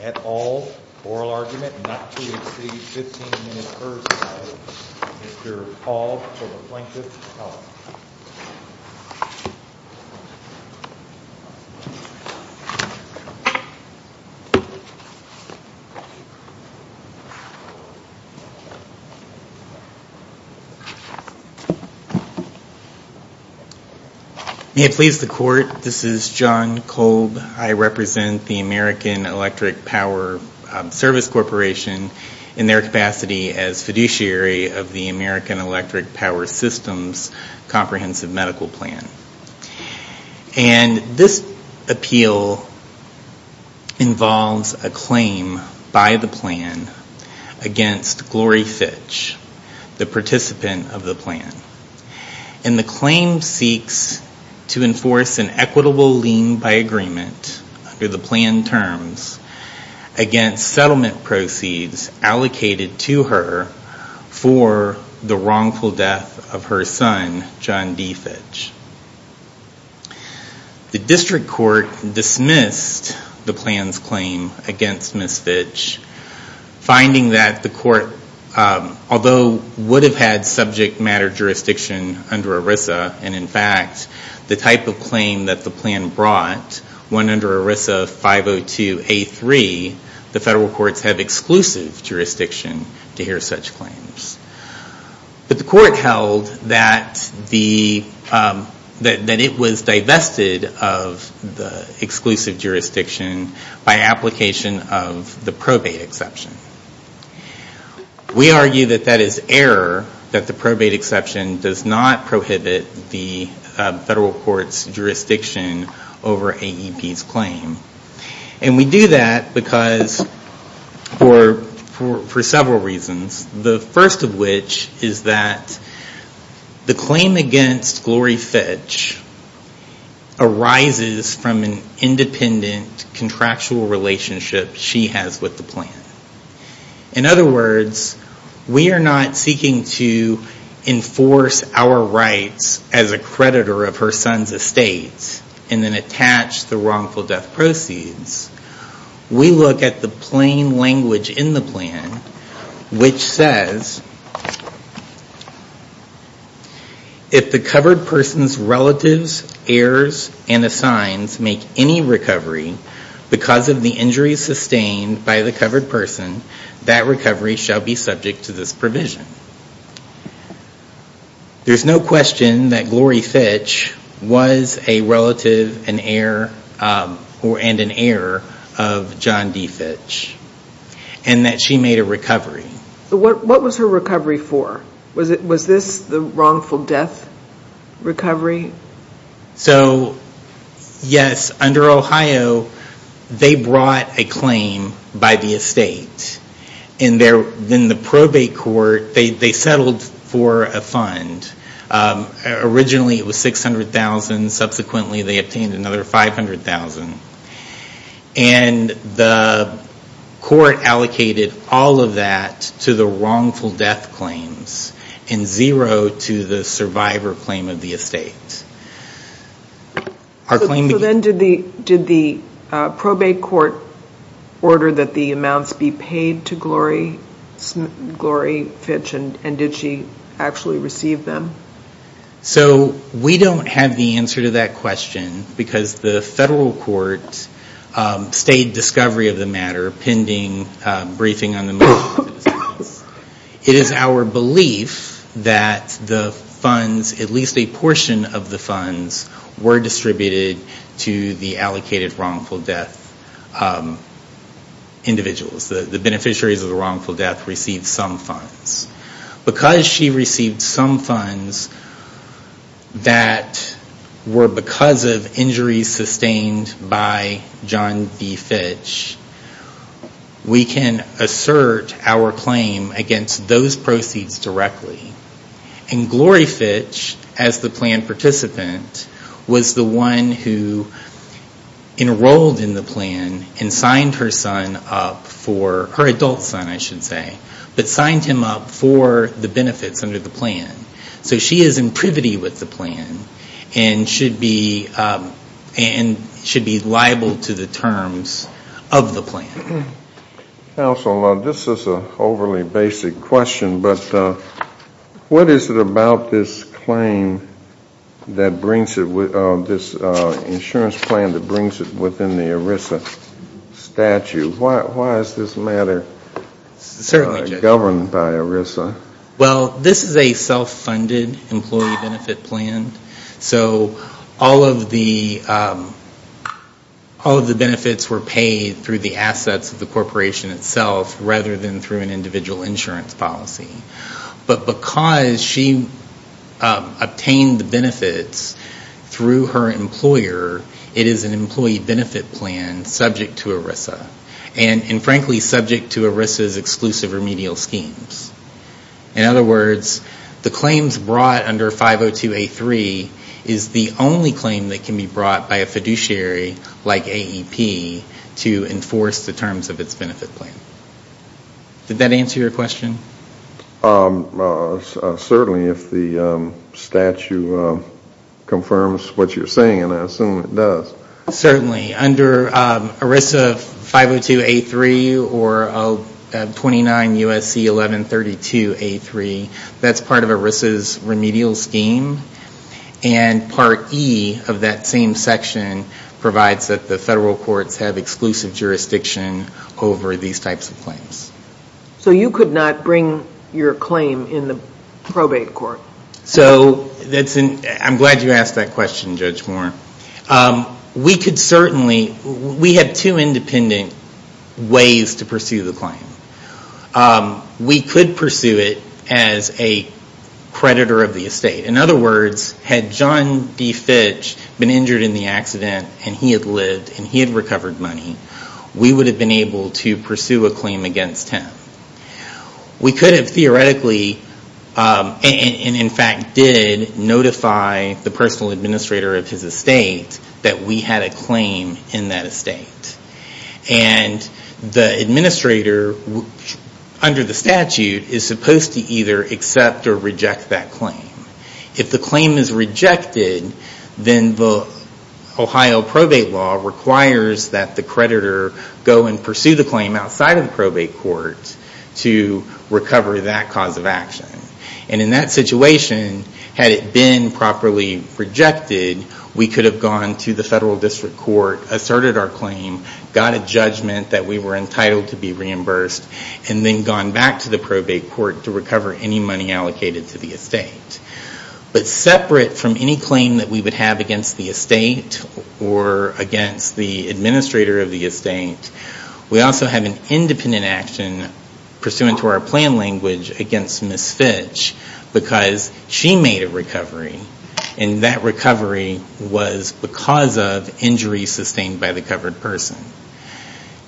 et al. Oral argument not to exceed 15 minutes per side. Mr. Paul for the Plaintiff's Clause. May it please the Court, this is John Kolb. I represent the American Electric Power Service Corporation in their capacity as fiduciary of the American Electric Power Systems Comprehensive Medical Plan. And this appeal involves a claim by the plaintiff that the American Electric Plan against Glory Fitch, the participant of the plan. And the claim seeks to enforce an equitable lien by agreement under the plan terms against settlement proceeds allocated to her for the wrongful death of her son, John D. Fitch. The District Court dismissed the plan's claim against Ms. Fitch, finding that the court, although would have had subject matter jurisdiction under ERISA, and in fact the type of claim that the plan brought, one under ERISA 502A3, the federal courts have exclusive jurisdiction to hear such claims. But the court held that it was divested of the exclusive jurisdiction to hear such claims. By application of the probate exception. We argue that that is error, that the probate exception does not prohibit the federal court's jurisdiction over AEP's claim. And we do that because for several reasons. The first of which is that the claim against Glory Fitch arises from an independent contractual relationship she has with the plan. In other words, we are not seeking to enforce our rights as a creditor of her son's estate and then attach the wrongful death proceeds. We look at the plain language in the plan which says, if the covered person's relatives, heirs, and assigns make any recovery because of the injuries sustained by the covered person, that recovery shall be subject to this provision. There's no question that Glory Fitch was a relative and an heir of John D. Fitch. And that she was her recovery for. Was this the wrongful death recovery? So yes, under Ohio, they brought a claim by the estate. In the probate court, they settled for a fund. Originally it was $600,000. Subsequently they obtained another $500,000. And the court allocated all of that to the wrongful death claims. And zero to the survivor claim of the estate. So then did the probate court order that the amounts be paid to Glory Fitch? And did she actually receive them? So we don't have the answer to that question because the federal court stayed discovery of the matter, pending briefing on the matter. It is our belief that the funds, at least a portion of the funds, were distributed to the allocated wrongful death individuals. The beneficiaries of the wrongful death received some funds. Because she received some funds that were because of any of the wrongful death injuries sustained by John D. Fitch. We can assert our claim against those proceeds directly. And Glory Fitch, as the plan participant, was the one who enrolled in the plan and signed her son up for, her adult son I should say, but signed him up for the benefits under the plan. And should be liable to the terms of the plan. Counsel, this is an overly basic question, but what is it about this claim that brings it, this insurance plan that brings it within the ERISA statute? Why is this matter governed by ERISA? Well this is a self-funded employee benefit plan. So all of the benefits were paid through the assets of the corporation itself rather than through an individual insurance policy. But because she obtained the benefits through her employer, it is an employee benefit plan subject to ERISA. And frankly subject to ERISA's exclusive remedial schemes. In other words, the claims brought under 502A3 is the only claim that can be brought by a fiduciary like AEP to enforce the terms of its benefit plan. Did that answer your question? Certainly if the statute confirms what you're saying, and I assume it does. Certainly. Under ERISA 502A3 or 29 U.S.C. 1132A3, that's part of ERISA's remedial scheme. And part E of that same section provides that the federal courts have exclusive jurisdiction over these types of claims. So you could not bring your claim in the probate court? So I'm glad you asked that question Judge Moore. We have two independent ways to pursue the claim. We could pursue it as a creditor of the estate. In other words, had John D. Fitch been injured in the accident and he had lived and he had recovered money, we would have been able to pursue a claim against him. We could have theoretically, and in fact did, notify the personal administrator of his estate that we had a claim in that estate. And the administrator, under the statute, is supposed to either accept or reject that claim. If the claim is rejected, then the Ohio probate law requires that the creditor go and pursue the claim outside of the probate court to recover that cause of action. And in that situation, had it been properly rejected, we could have gone to the federal district court, asserted our claim, got a judgment that we were entitled to be reimbursed, and then gone back to the probate court to recover any money allocated to the estate. But separate from any claim that we would have against the estate or against the administrator of the estate, we also have an independent action pursuant to our plan language against Ms. Fitch because she made a recovery. And that recovery was because of injuries sustained by the covered person.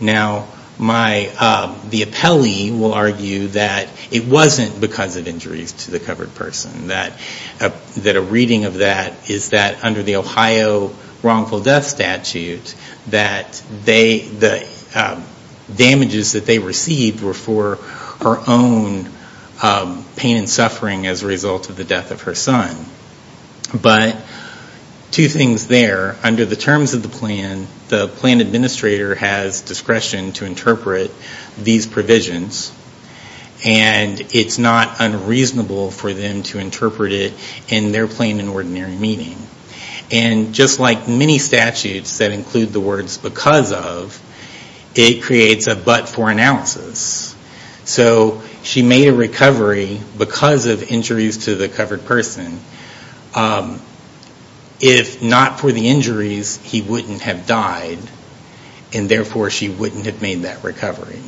Now the appellee will argue that it wasn't because of injuries to the covered person. That a reading of that is that under the Ohio wrongful death statute, the damages that they received were for her own pain and suffering as a result of the death of her son. But two things there. Under the terms of the plan, the plan administrator has discretion to interpret these provisions. And it's not unreasonable for them to interpret it in their plain and ordinary meaning. And just like many statutes that include the words because of, it creates a but for analysis. So she made a recovery because of injuries to the covered person. If not for the injuries, he wouldn't have died and therefore she wouldn't have made that recovery.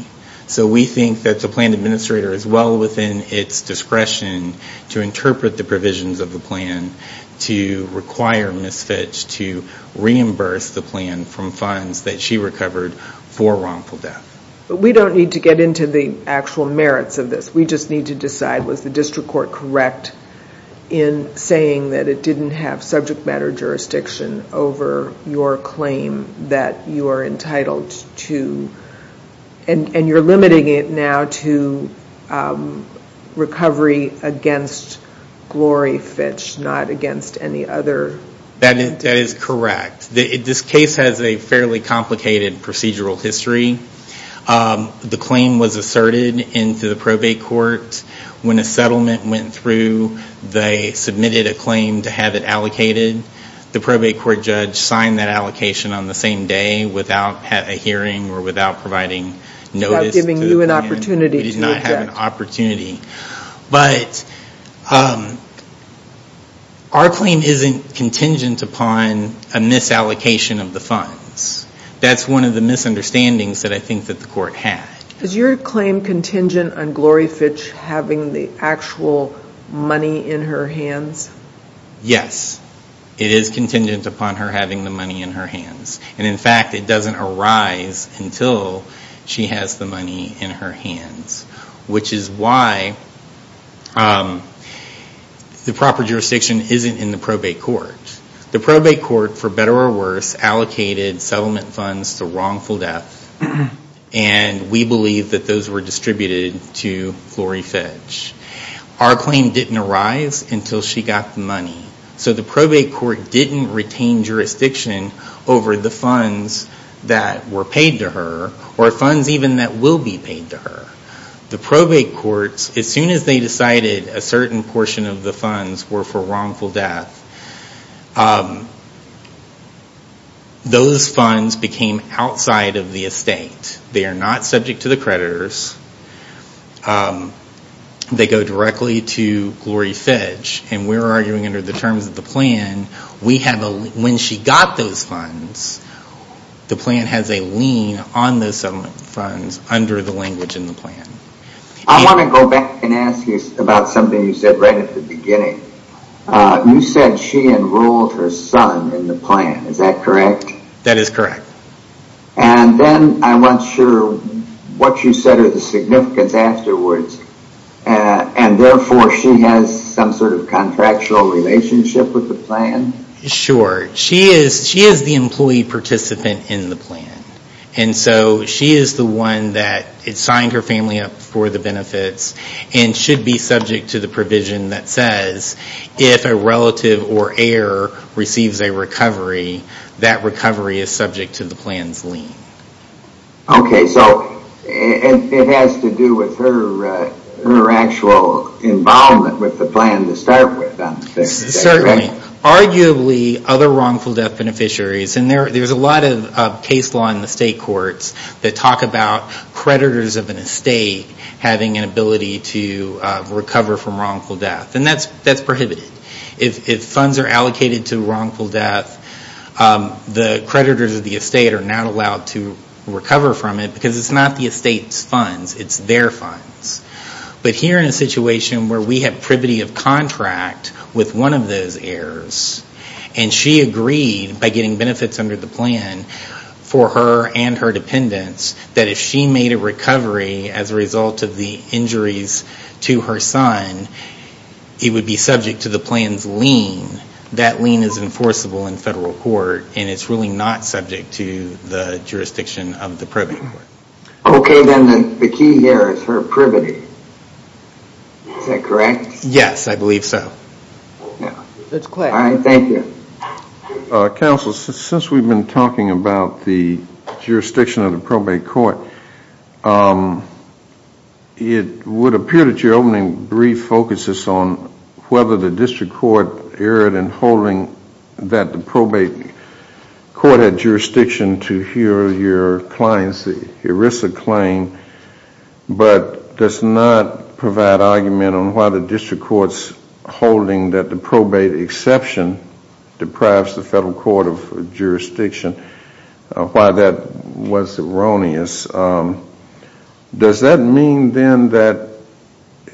So we think that the plan administrator is well within its discretion to interpret the provisions of the plan to require Ms. Fitch to reimburse the plan from funds that she recovered for wrongful death. We don't need to get into the actual merits of this. We just need to decide was the district court correct in saying that it didn't have subject matter jurisdiction over your claim that you are entitled to, and you're limiting it now to recovery against Glory Fitch, not against any other? That is correct. This case has a fairly complicated procedural history. The claim was asserted into the probate court. When a settlement went through, they submitted a claim to have it allocated. The probate court judge signed that allocation on the same day without a hearing or without providing notice to the plan. Without giving you an opportunity to object. We did not have an opportunity. But our claim isn't contingent upon a misallocation of the funds. That's one of the misunderstandings that I think that the court had. Is your claim contingent on Glory Fitch having the actual money in her hands? Yes. It is contingent upon her having the money in her hands. In fact, it doesn't arise until she has the money in her hands, which is why the proper jurisdiction isn't in the probate court. The probate court, for better or worse, allocated settlement funds to wrongful death. And we believe that those were distributed to Glory Fitch. Our claim didn't arise until she got the money. So the probate court didn't retain jurisdiction over the funds that were paid to her or funds even that will be paid to her. The probate courts, as soon as they decided a certain portion of the funds were for wrongful death, those funds became outside of the estate. They are not subject to the creditors. They go directly to Glory Fitch. And we're arguing under the terms of the plan, when she got those funds, the plan has a lien on those settlement funds under the language in the plan. I want to go back and ask you about something you said right at the beginning. You said she enrolled her son in the plan. Is that correct? That is correct. And then I'm not sure what you said is the significance afterwards. And therefore, she has some sort of contractual relationship with the plan? Sure. She is the employee participant in the plan. And so she is the one that signed her family up for the benefits and should be subject to the provision that says if a relative or recovery is subject to the plan's lien. Okay. So it has to do with her actual involvement with the plan to start with, I'm assuming. Certainly. Arguably, other wrongful death beneficiaries, and there's a lot of case law in the state courts that talk about creditors of an estate having an ability to recover from wrongful death. And that's prohibited. If funds are allocated to wrongful death, the creditors of the estate are not allowed to recover from it because it's not the estate's funds, it's their funds. But here in a situation where we have privity of contract with one of those heirs, and she agreed by getting benefits under the plan for her and her dependents, that if she made a recovery as a result of the injuries to her son, it would be subject to the plan's lien. That lien is enforceable in federal court and it's really not subject to the jurisdiction of the probate court. Okay. Then the key here is her privity. Is that correct? Yes, I believe so. All right. Thank you. Counsel, since we've been talking about the jurisdiction of the probate court, it would appear that your opening brief focuses on whether the district court erred in holding that the probate court had jurisdiction to hear your client's ERISA claim, but does not deprive the federal court of jurisdiction. Why that was erroneous. Does that mean then that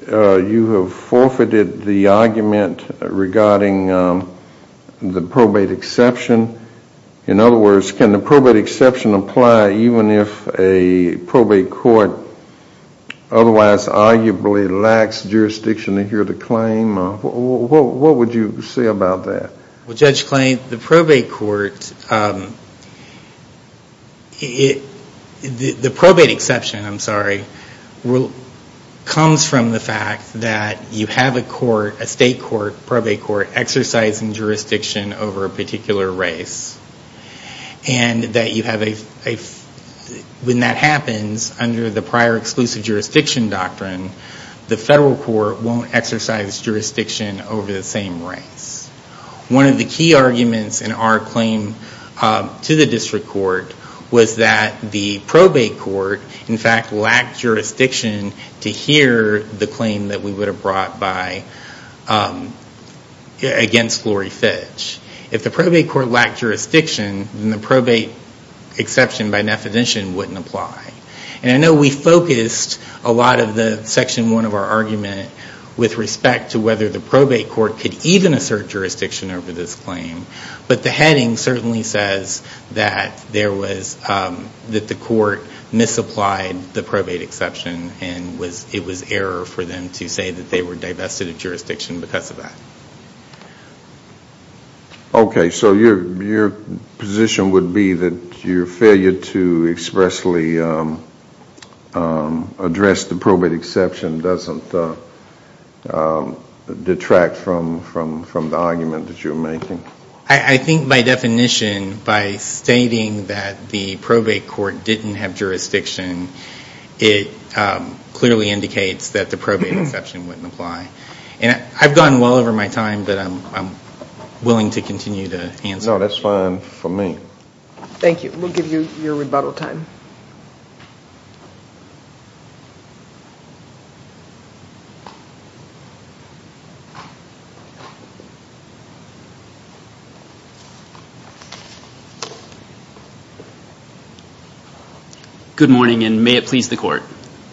you have forfeited the argument regarding the probate exception? In other words, can the probate exception apply even if a probate court otherwise arguably lacks jurisdiction to hear the claim? What would you say about that? Judge Clay, the probate exception comes from the fact that you have a state court, probate court, exercising jurisdiction over a particular race. When that happens, under the prior exclusive jurisdiction doctrine, the federal court won't exercise jurisdiction over the same race. One of the key arguments in our claim to the district court was that the probate court in fact lacked jurisdiction to hear the claim that we would have brought against Glory Fitch. If the probate court lacked jurisdiction, then the probate exception by definition wouldn't apply. I know we focused a lot of the section one of our argument with respect to whether the probate court could even assert jurisdiction over this claim, but the heading certainly says that the court misapplied the probate exception and it was error for them to say that they were divested of jurisdiction because of that. Okay, so your position would be that your failure to expressly address the probate exception doesn't detract from the argument that you're making? I think by definition, by stating that the probate court didn't have jurisdiction, it I've gotten well over my time, but I'm willing to continue to answer. No, that's fine for me. Thank you. We'll give you your rebuttal time. Good morning and may it please the court.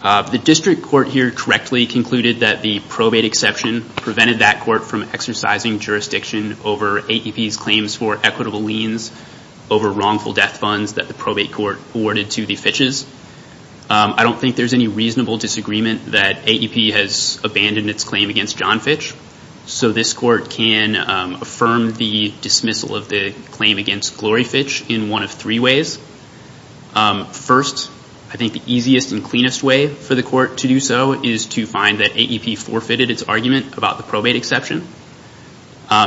The district court here correctly concluded that the probate exception prevented that court from exercising jurisdiction over AEP's claims for equitable liens over wrongful death funds that the probate court awarded to the Fitches. I don't think there's any reasonable disagreement that AEP has abandoned its claim against John Fitch, so this court can affirm the dismissal of the claim against Glory Fitch in one of three ways. First, I think the easiest and cleanest way for the court to do so is to find that AEP forfeited its argument about the probate exception.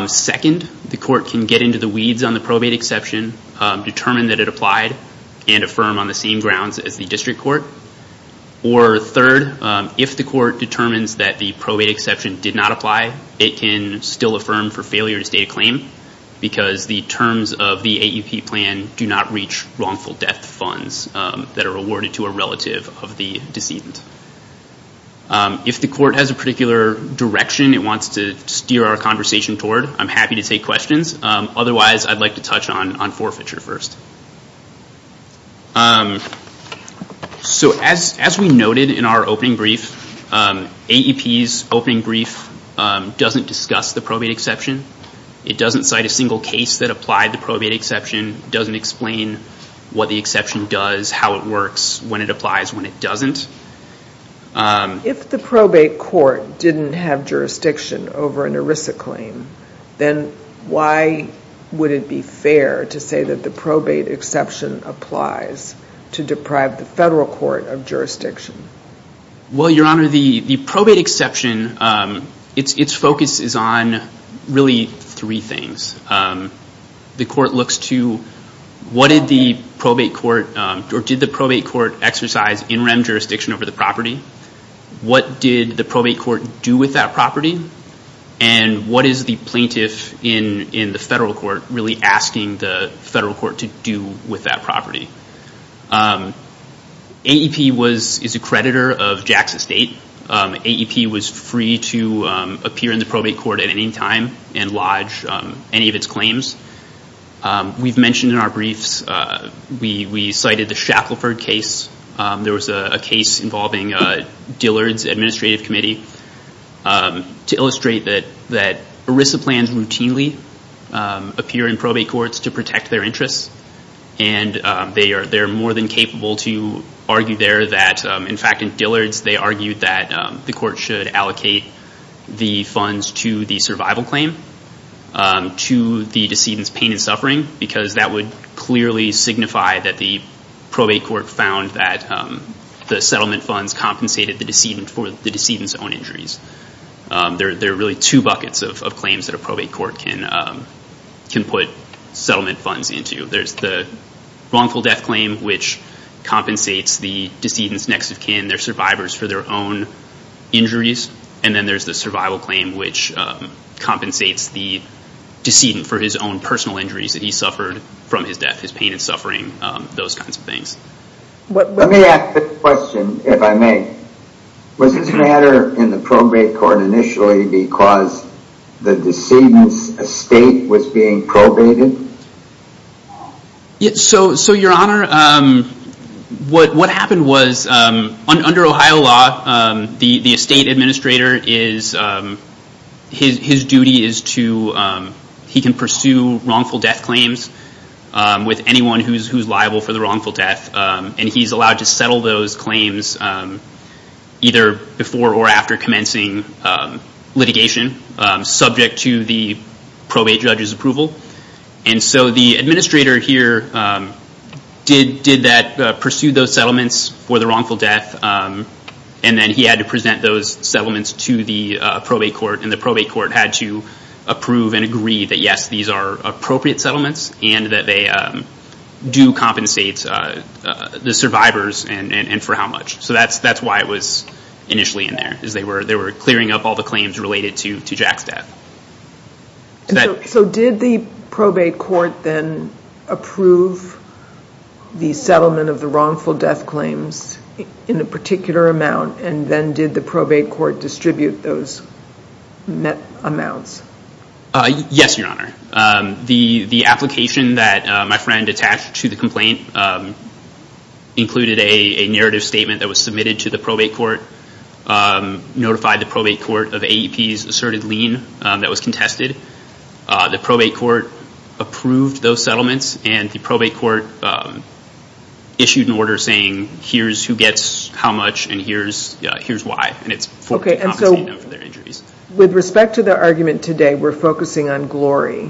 Second, the court can get into the weeds on the probate exception, determine that it applied, and affirm on the same grounds as the district court. Or third, if the court determines that the probate exception did not apply, it can still affirm for failure to state a claim because the terms of the decision. If the court has a particular direction it wants to steer our conversation toward, I'm happy to take questions. Otherwise, I'd like to touch on forfeiture first. As we noted in our opening brief, AEP's opening brief doesn't discuss the probate exception. It doesn't cite a single case that applied the probate exception, doesn't explain what the exception does, how it works, when it applies, when it doesn't. If the probate court didn't have jurisdiction over an ERISA claim, then why would it be fair to say that the probate exception applies to deprive the federal court of jurisdiction? Well, Your Honor, the probate exception, its focus is on really three things. The court did the probate court exercise NREM jurisdiction over the property? What did the probate court do with that property? And what is the plaintiff in the federal court really asking the federal court to do with that property? AEP is a creditor of Jackson State. AEP was free to appear in the probate court at any time and lodge any of its claims. We've mentioned in our briefs, we cited the Shackleford case. There was a case involving Dillard's administrative committee to illustrate that ERISA plans routinely appear in probate courts to protect their interests. And they are more than capable to argue there that, in fact, in Dillard's, they argued that the court should allocate the funds to the survival of the decedent's pain and suffering, because that would clearly signify that the probate court found that the settlement funds compensated the decedent for the decedent's own injuries. There are really two buckets of claims that a probate court can put settlement funds into. There's the wrongful death claim, which compensates the decedent's next of kin, their survivors, for their own injuries. And then there's the survival claim, which compensates the decedent for his own personal injuries that he suffered from his death, his pain and suffering, those kinds of things. Let me ask a question, if I may. Was this matter in the probate court initially because the decedent's estate was being probated? So your honor, what happened was, under Ohio law, the estate administrator, his duty is to, he can pursue wrongful death claims with anyone who's liable for the wrongful death. And he's allowed to settle those claims either before or after commencing litigation, subject to the probate judge's approval. And so the administrator here did that, pursued those settlements for the wrongful death, and then he had to present those settlements to the probate court. And the probate court had to approve and agree that, yes, these are appropriate settlements, and that they do compensate the survivors, and for how much. So that's why it was initially in there, is they were clearing up all the claims related to Jack's death. So did the probate court then approve the settlement of the wrongful death claims in a particular amount, and then did the probate court distribute those amounts? Yes, your honor. The application that my friend attached to the complaint included a narrative statement that was submitted to the probate court, notified the probate court of AEP's asserted lien that was contested. The probate court approved those settlements, and the probate court issued an order saying, here's who gets how much, and here's why. And it's for their injuries. With respect to the argument today, we're focusing on Glory.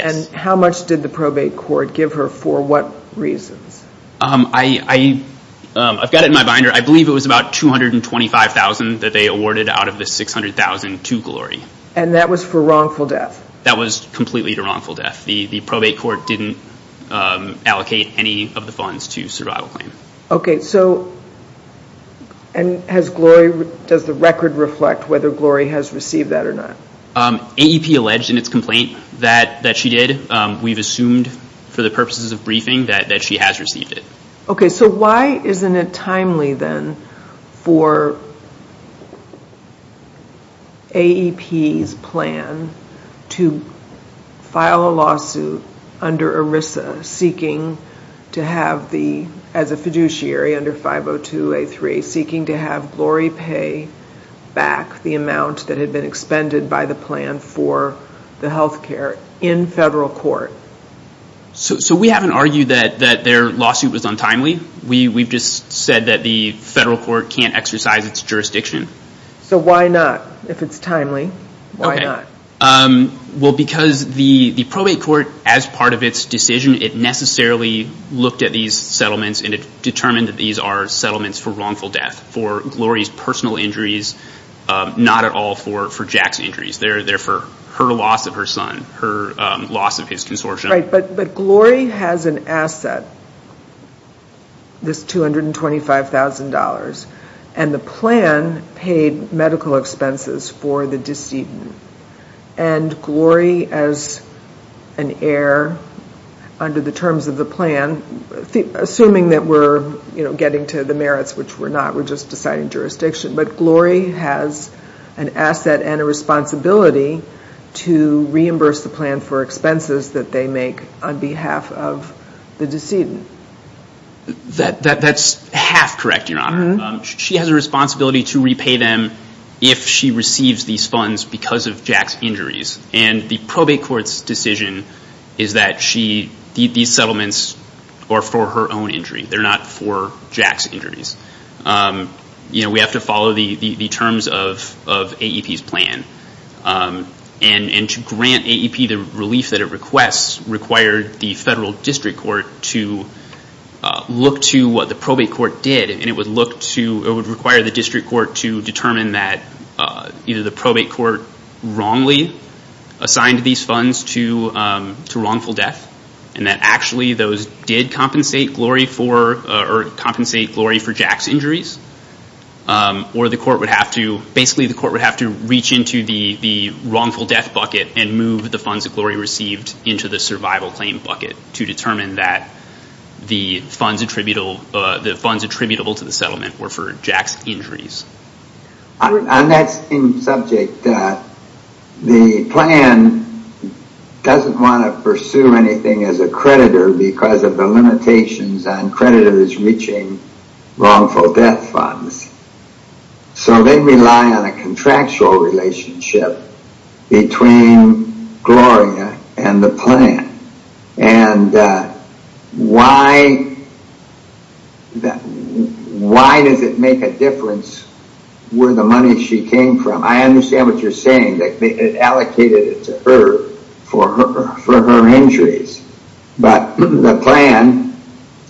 And how much did the probate court give her for what reasons? I've got it in my binder. I believe it was about $225,000 that they awarded out of the $600,000 to Glory. And that was for wrongful death? That was completely to wrongful death. The AEP alleged in its complaint that she did. We've assumed for the purposes of briefing that she has received it. So why isn't it timely then for AEP's plan to file a lawsuit under ERISA, as a fiduciary under 502A3, seeking to have Glory pay back the amount that had been expended by the plan for the healthcare in federal court? So we haven't argued that their lawsuit was untimely. We've just said that the federal court can't exercise its jurisdiction. So why not, if it's timely? Why not? Well because the probate court, as part of its decision, it necessarily looked at these settlements and it determined that these are settlements for wrongful death, for Glory's personal injuries, not at all for Jack's injuries. They're for her loss of her son, her loss of his consortium. Right, but Glory has an asset, this $225,000 and the plan paid medical expenses for the decedent. And Glory as an heir under the terms of the plan, assuming that we're getting to the merits, which we're not, we're just deciding jurisdiction, but Glory has an asset and a responsibility to reimburse the plan for expenses that they make on behalf of the decedent. That's half correct, Your Honor. She has a responsibility to repay them if she receives these funds because of Jack's injuries. And the probate court's decision is that these settlements are for her own injury. They're not for Jack's injuries. We have to follow the terms of AEP's plan. And to grant AEP the relief that it requests required the federal district court to look to what the probate court did and it would require the district court to determine that either the probate court wrongly assigned these funds to wrongful death, and that actually those did compensate Glory for Jack's injuries, or basically the court would have to reach into the wrongful death bucket and move the funds that Glory received into the survival claim bucket to determine that the funds attributable to the settlement were for Jack's injuries. On that same subject, the plan doesn't want to pursue anything as a creditor because of the limitations on creditors reaching wrongful death funds. So they rely on a contractual relationship between Gloria and the plan. And why does it make a difference where the money she came from? I understand what you're saying. It allocated it to her for her injuries. But the plan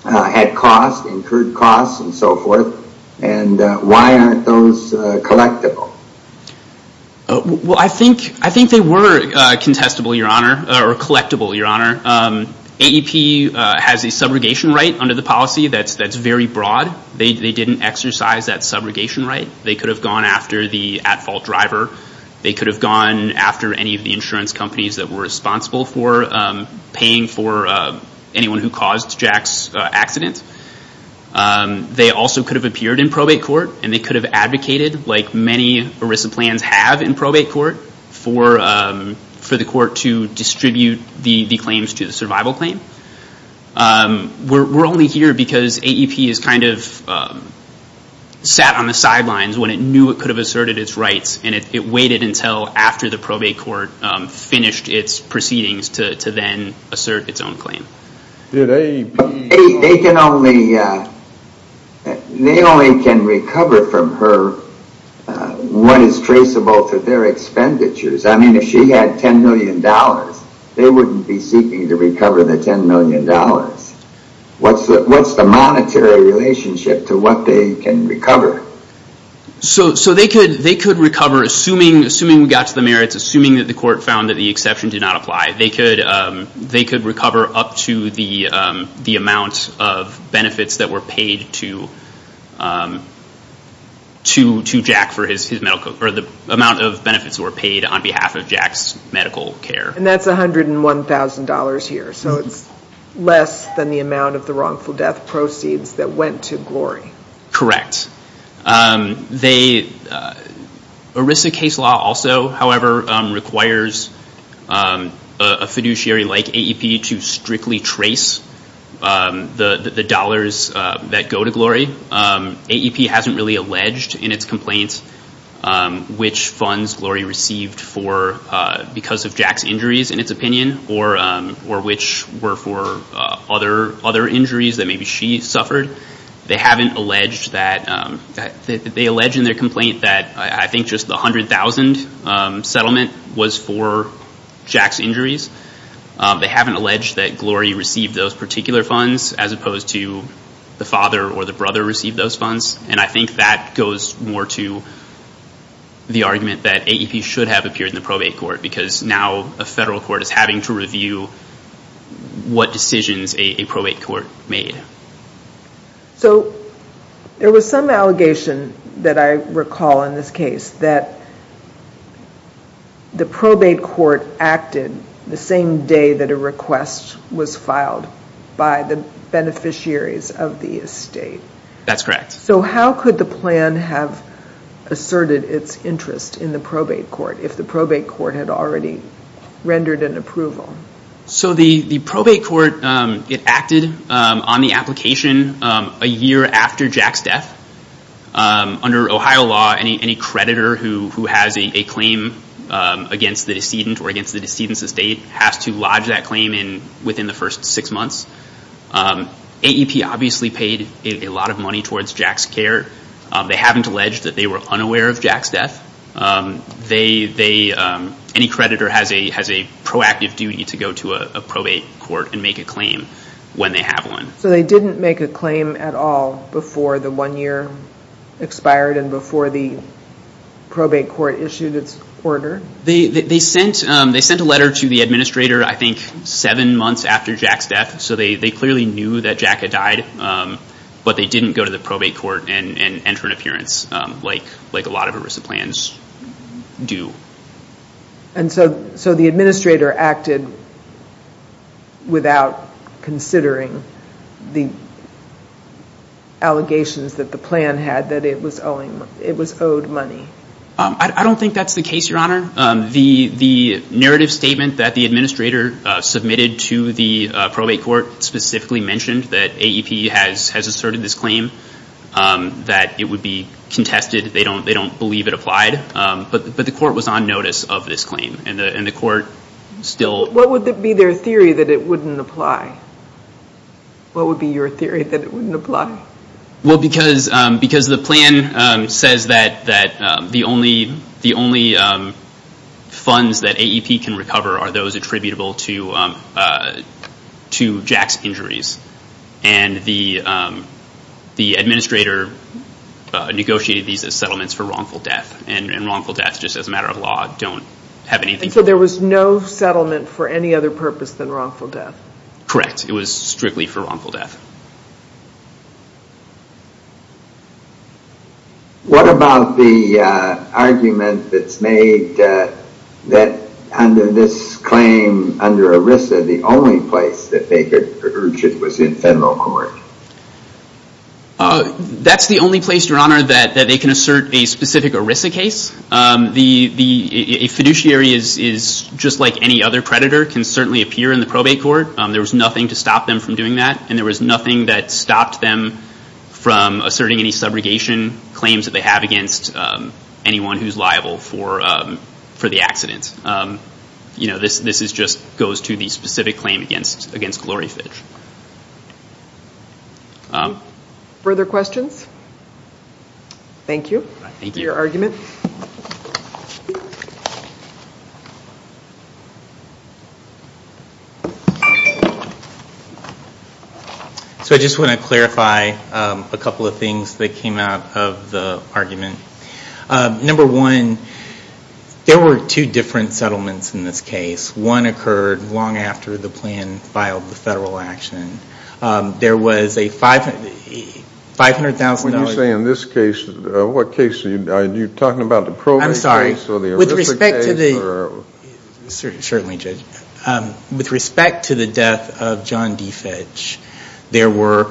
had costs, incurred costs, and so forth. And why aren't those collectible? I think they were contestable, your honor, or collectible, your honor. AEP has a subrogation right under the policy that's very broad. They didn't exercise that subrogation right. They could have gone after the at-fault driver. They could have gone after any of the insurance companies that were responsible for paying for anyone who caused Jack's accident. They also could have appeared in probate court. And they could have advocated, like many ERISA plans have in probate court, for the court to distribute the claims to the survival claim. We're only here because AEP is kind of sat on the sidelines when it knew it could have finished its proceedings to then assert its own claim. They only can recover from her what is traceable to their expenditures. I mean, if she had $10 million, they wouldn't be seeking to recover the $10 million. What's the monetary relationship to what they can recover? So they could recover, assuming we got to the merits, assuming that the court found that the exception did not apply, they could recover up to the amount of benefits that were paid to Jack for his medical, or the amount of benefits that were paid on behalf of Jack's medical care. And that's $101,000 here. So it's less than the amount of the wrongful death proceeds that went to Glory. Correct. ERISA case law also, however, requires a fiduciary like AEP to strictly trace the dollars that go to Glory. AEP hasn't really alleged in its complaints which funds Glory received for because of Jack's injuries, in its opinion, or which were for other injuries that maybe she suffered. They allege in their complaint that I think just the $100,000 settlement was for Jack's injuries. They haven't alleged that Glory received those particular funds as opposed to the father or the brother received those funds. And I think that goes more to the argument that AEP should have appeared in the probate court because now a federal court is having to review what decisions a probate court made. So there was some allegation that I recall in this case that the probate court acted the same day that a request was filed by the beneficiaries of the estate. That's correct. So how could the plan have asserted its interest in the probate court if the probate court had already rendered an approval? So the probate court, it acted on the application a year after Jack's death. Under Ohio law, any creditor who has a claim against the decedent or against the decedent's estate has to lodge that claim within the first six months. AEP obviously paid a lot of money towards Jack's They haven't alleged that they were unaware of Jack's death. Any creditor has a proactive duty to go to a probate court and make a claim when they have one. So they didn't make a claim at all before the one year expired and before the probate court issued its order? They sent a letter to the administrator, I think, seven months after Jack's death. So they clearly knew that Jack had died, but they didn't go to the probate court and enter an appearance like a lot of ERISA plans do. And so the administrator acted without considering the allegations that the plan had that it was owed money? I don't think that's the case, Your Honor. The narrative statement that the administrator submitted to the probate court specifically mentioned that AEP has asserted this claim, that it would be contested. They don't believe it applied. But the court was on notice of this claim. What would be their theory that it wouldn't apply? What would be your theory that it wouldn't apply? Well, because the plan says that the only funds that AEP can recover are those attributable to Jack's injuries. And the administrator negotiated these as settlements for wrongful death. And wrongful death, just as a matter of law, don't have anything to do with it. So there was no settlement for any other purpose than wrongful death? Correct. It was strictly for wrongful death. What about the argument that's made that under this claim, under ERISA, the only place that they could urge it was in federal court? That's the only place, Your Honor, that they can assert a specific ERISA case. A fiduciary is just like any other predator, can certainly appear in the probate court. There was nothing to stop them from doing that. And there was nothing that stopped them from asserting any subrogation claims that they have against anyone who's liable for the accident. This just goes to the specific claim against Gloryfish. Further questions? Thank you for your argument. So I just want to clarify a couple of things that came out of the argument. Number one, there were two different settlements in this case. One occurred long after the plan filed the federal action. There was a $500,000... When you say in this case, what case are you talking about? The probate case or the ERISA case or... There were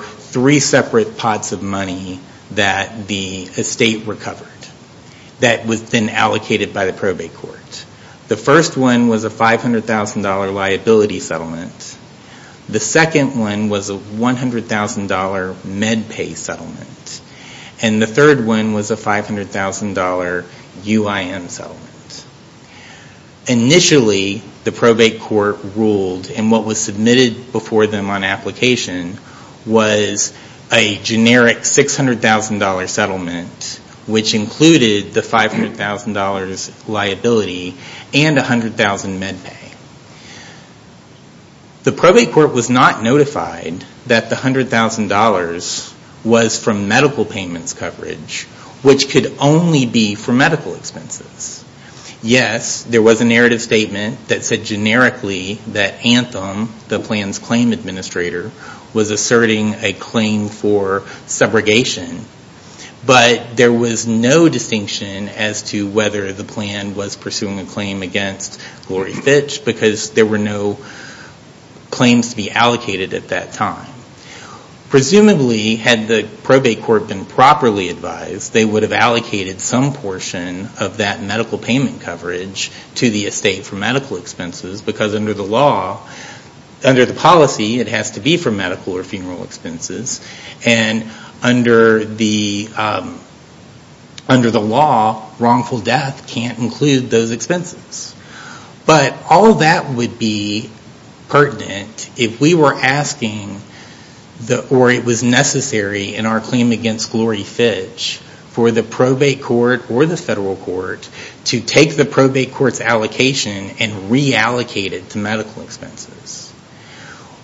three separate pots of money that the estate recovered that was then allocated by the probate court. The first one was a $500,000 liability settlement. The second one was a $100,000 med pay settlement. And the third one was a $500,000 UIM settlement. Initially, the probate court ruled, and what was submitted before them on application was a generic $600,000 settlement, which included the $500,000 liability and $100,000 med pay. The probate court was not notified that the $100,000 was from medical payments coverage, which could only be for medical expenses. Yes, there was a narrative statement that said generically that Anthem, the plan's claim administrator, was asserting a claim for subrogation. But there was no distinction as to whether the plan was pursuing a claim against Glory Fitch, because there were no claims to be allocated at that time. Presumably, had the probate court been properly advised, they would have allocated some portion of that medical payment coverage to the estate for medical expenses, because under the law, under the policy, it has to be for medical or funeral expenses. And under the law, wrongful death can't include those expenses. But all that would be pertinent if we were asking, or it was necessary in our claim against Glory Fitch, for the probate court or the federal court to take the probate court's allocation and reallocate it to medical expenses.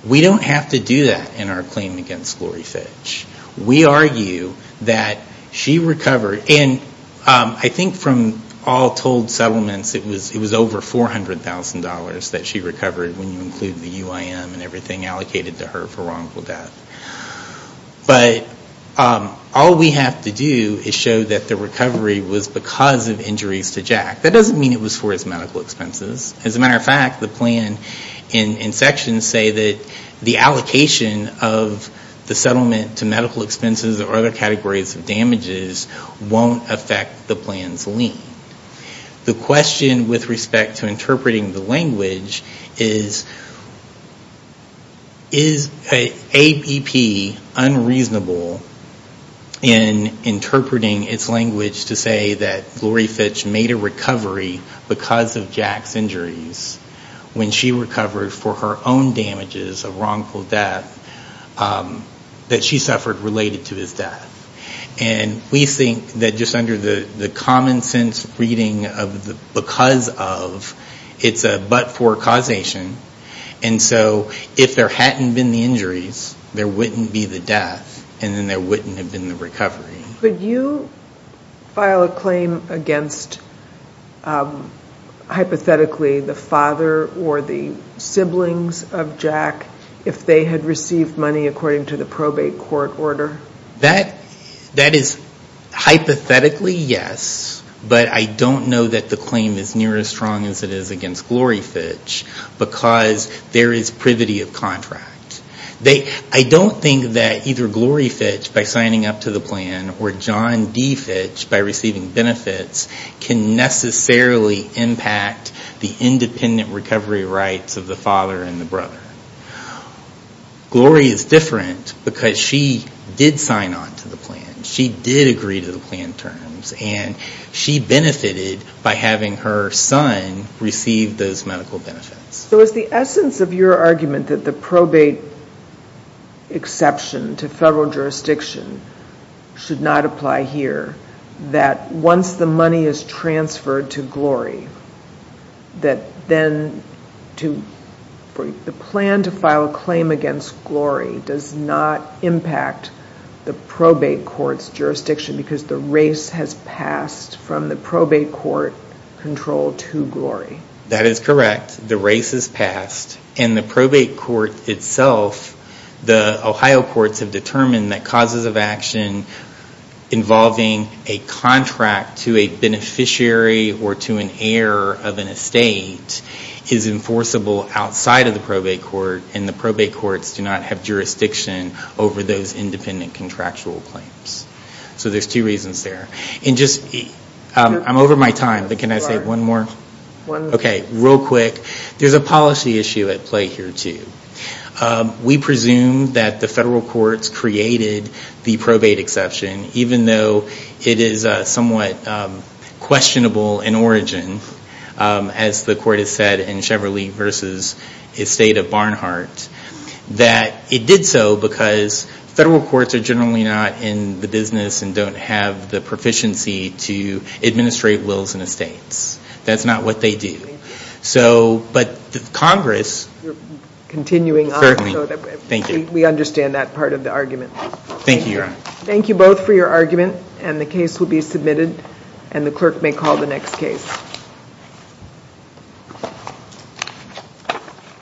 We don't have to do that in our claim against Glory Fitch. We argue that she recovered, and I think from all told settlements, it was over $400,000 that she recovered when you include the UIM and everything allocated to her for wrongful death. But all we have to do is show that the recovery was because of injuries to Jack. That doesn't mean it was for his medical expenses. As a matter of fact, the plan and sections say that the recovery won't affect the plan's lien. The question with respect to interpreting the language is, is ABP unreasonable in interpreting its language to say that Glory Fitch made a recovery because of Jack's injuries when she recovered for her own damages of wrongful death that she suffered related to his death. We think that just under the common sense reading of the because of, it's a but for causation. If there hadn't been the injuries, there wouldn't be the death, and then there wouldn't have been the recovery. Could you file a claim against, hypothetically, the father or the siblings of Jack if they had received money according to the probate court order? That is hypothetically yes, but I don't know that the claim is near as strong as it is against Glory Fitch because there is privity of contract. I don't think that either Glory Fitch by signing up to the plan or John D. Fitch by receiving benefits can necessarily impact the independent recovery rights of the father and the brother. Glory is different because she did sign on to the plan. She did agree to the plan terms, and she benefited by having her son receive those medical benefits. So is the essence of your argument that the probate exception to federal jurisdiction should not apply here, that once the money is transferred to Glory, that then the plan to file a claim against Glory does not impact the probate court's jurisdiction because the race has passed from the probate court control to Glory? That is correct. The race has passed, and the probate court itself, the Ohio courts have determined that causes of action involving a contract to a beneficiary or to an heir of an estate is enforceable outside of the probate court, and the probate courts do not have jurisdiction over those independent contractual claims. So there are two reasons there. I'm over my time, but can I say one more? Okay, real quick. There's a policy issue at play here, too. We presume that the federal courts created the probate exception, even though it is somewhat questionable in origin, as the court has said in Chevrolet v. Estate of Barnhart, that it did so because federal courts are generally not in the business and don't have the proficiency to administrate wills and estates. That's not what they do. But Congress certainly, we understand that part of the argument. Thank you, Your Honor. Thank you both for your argument, and the case will be submitted, and the clerk may call the next case.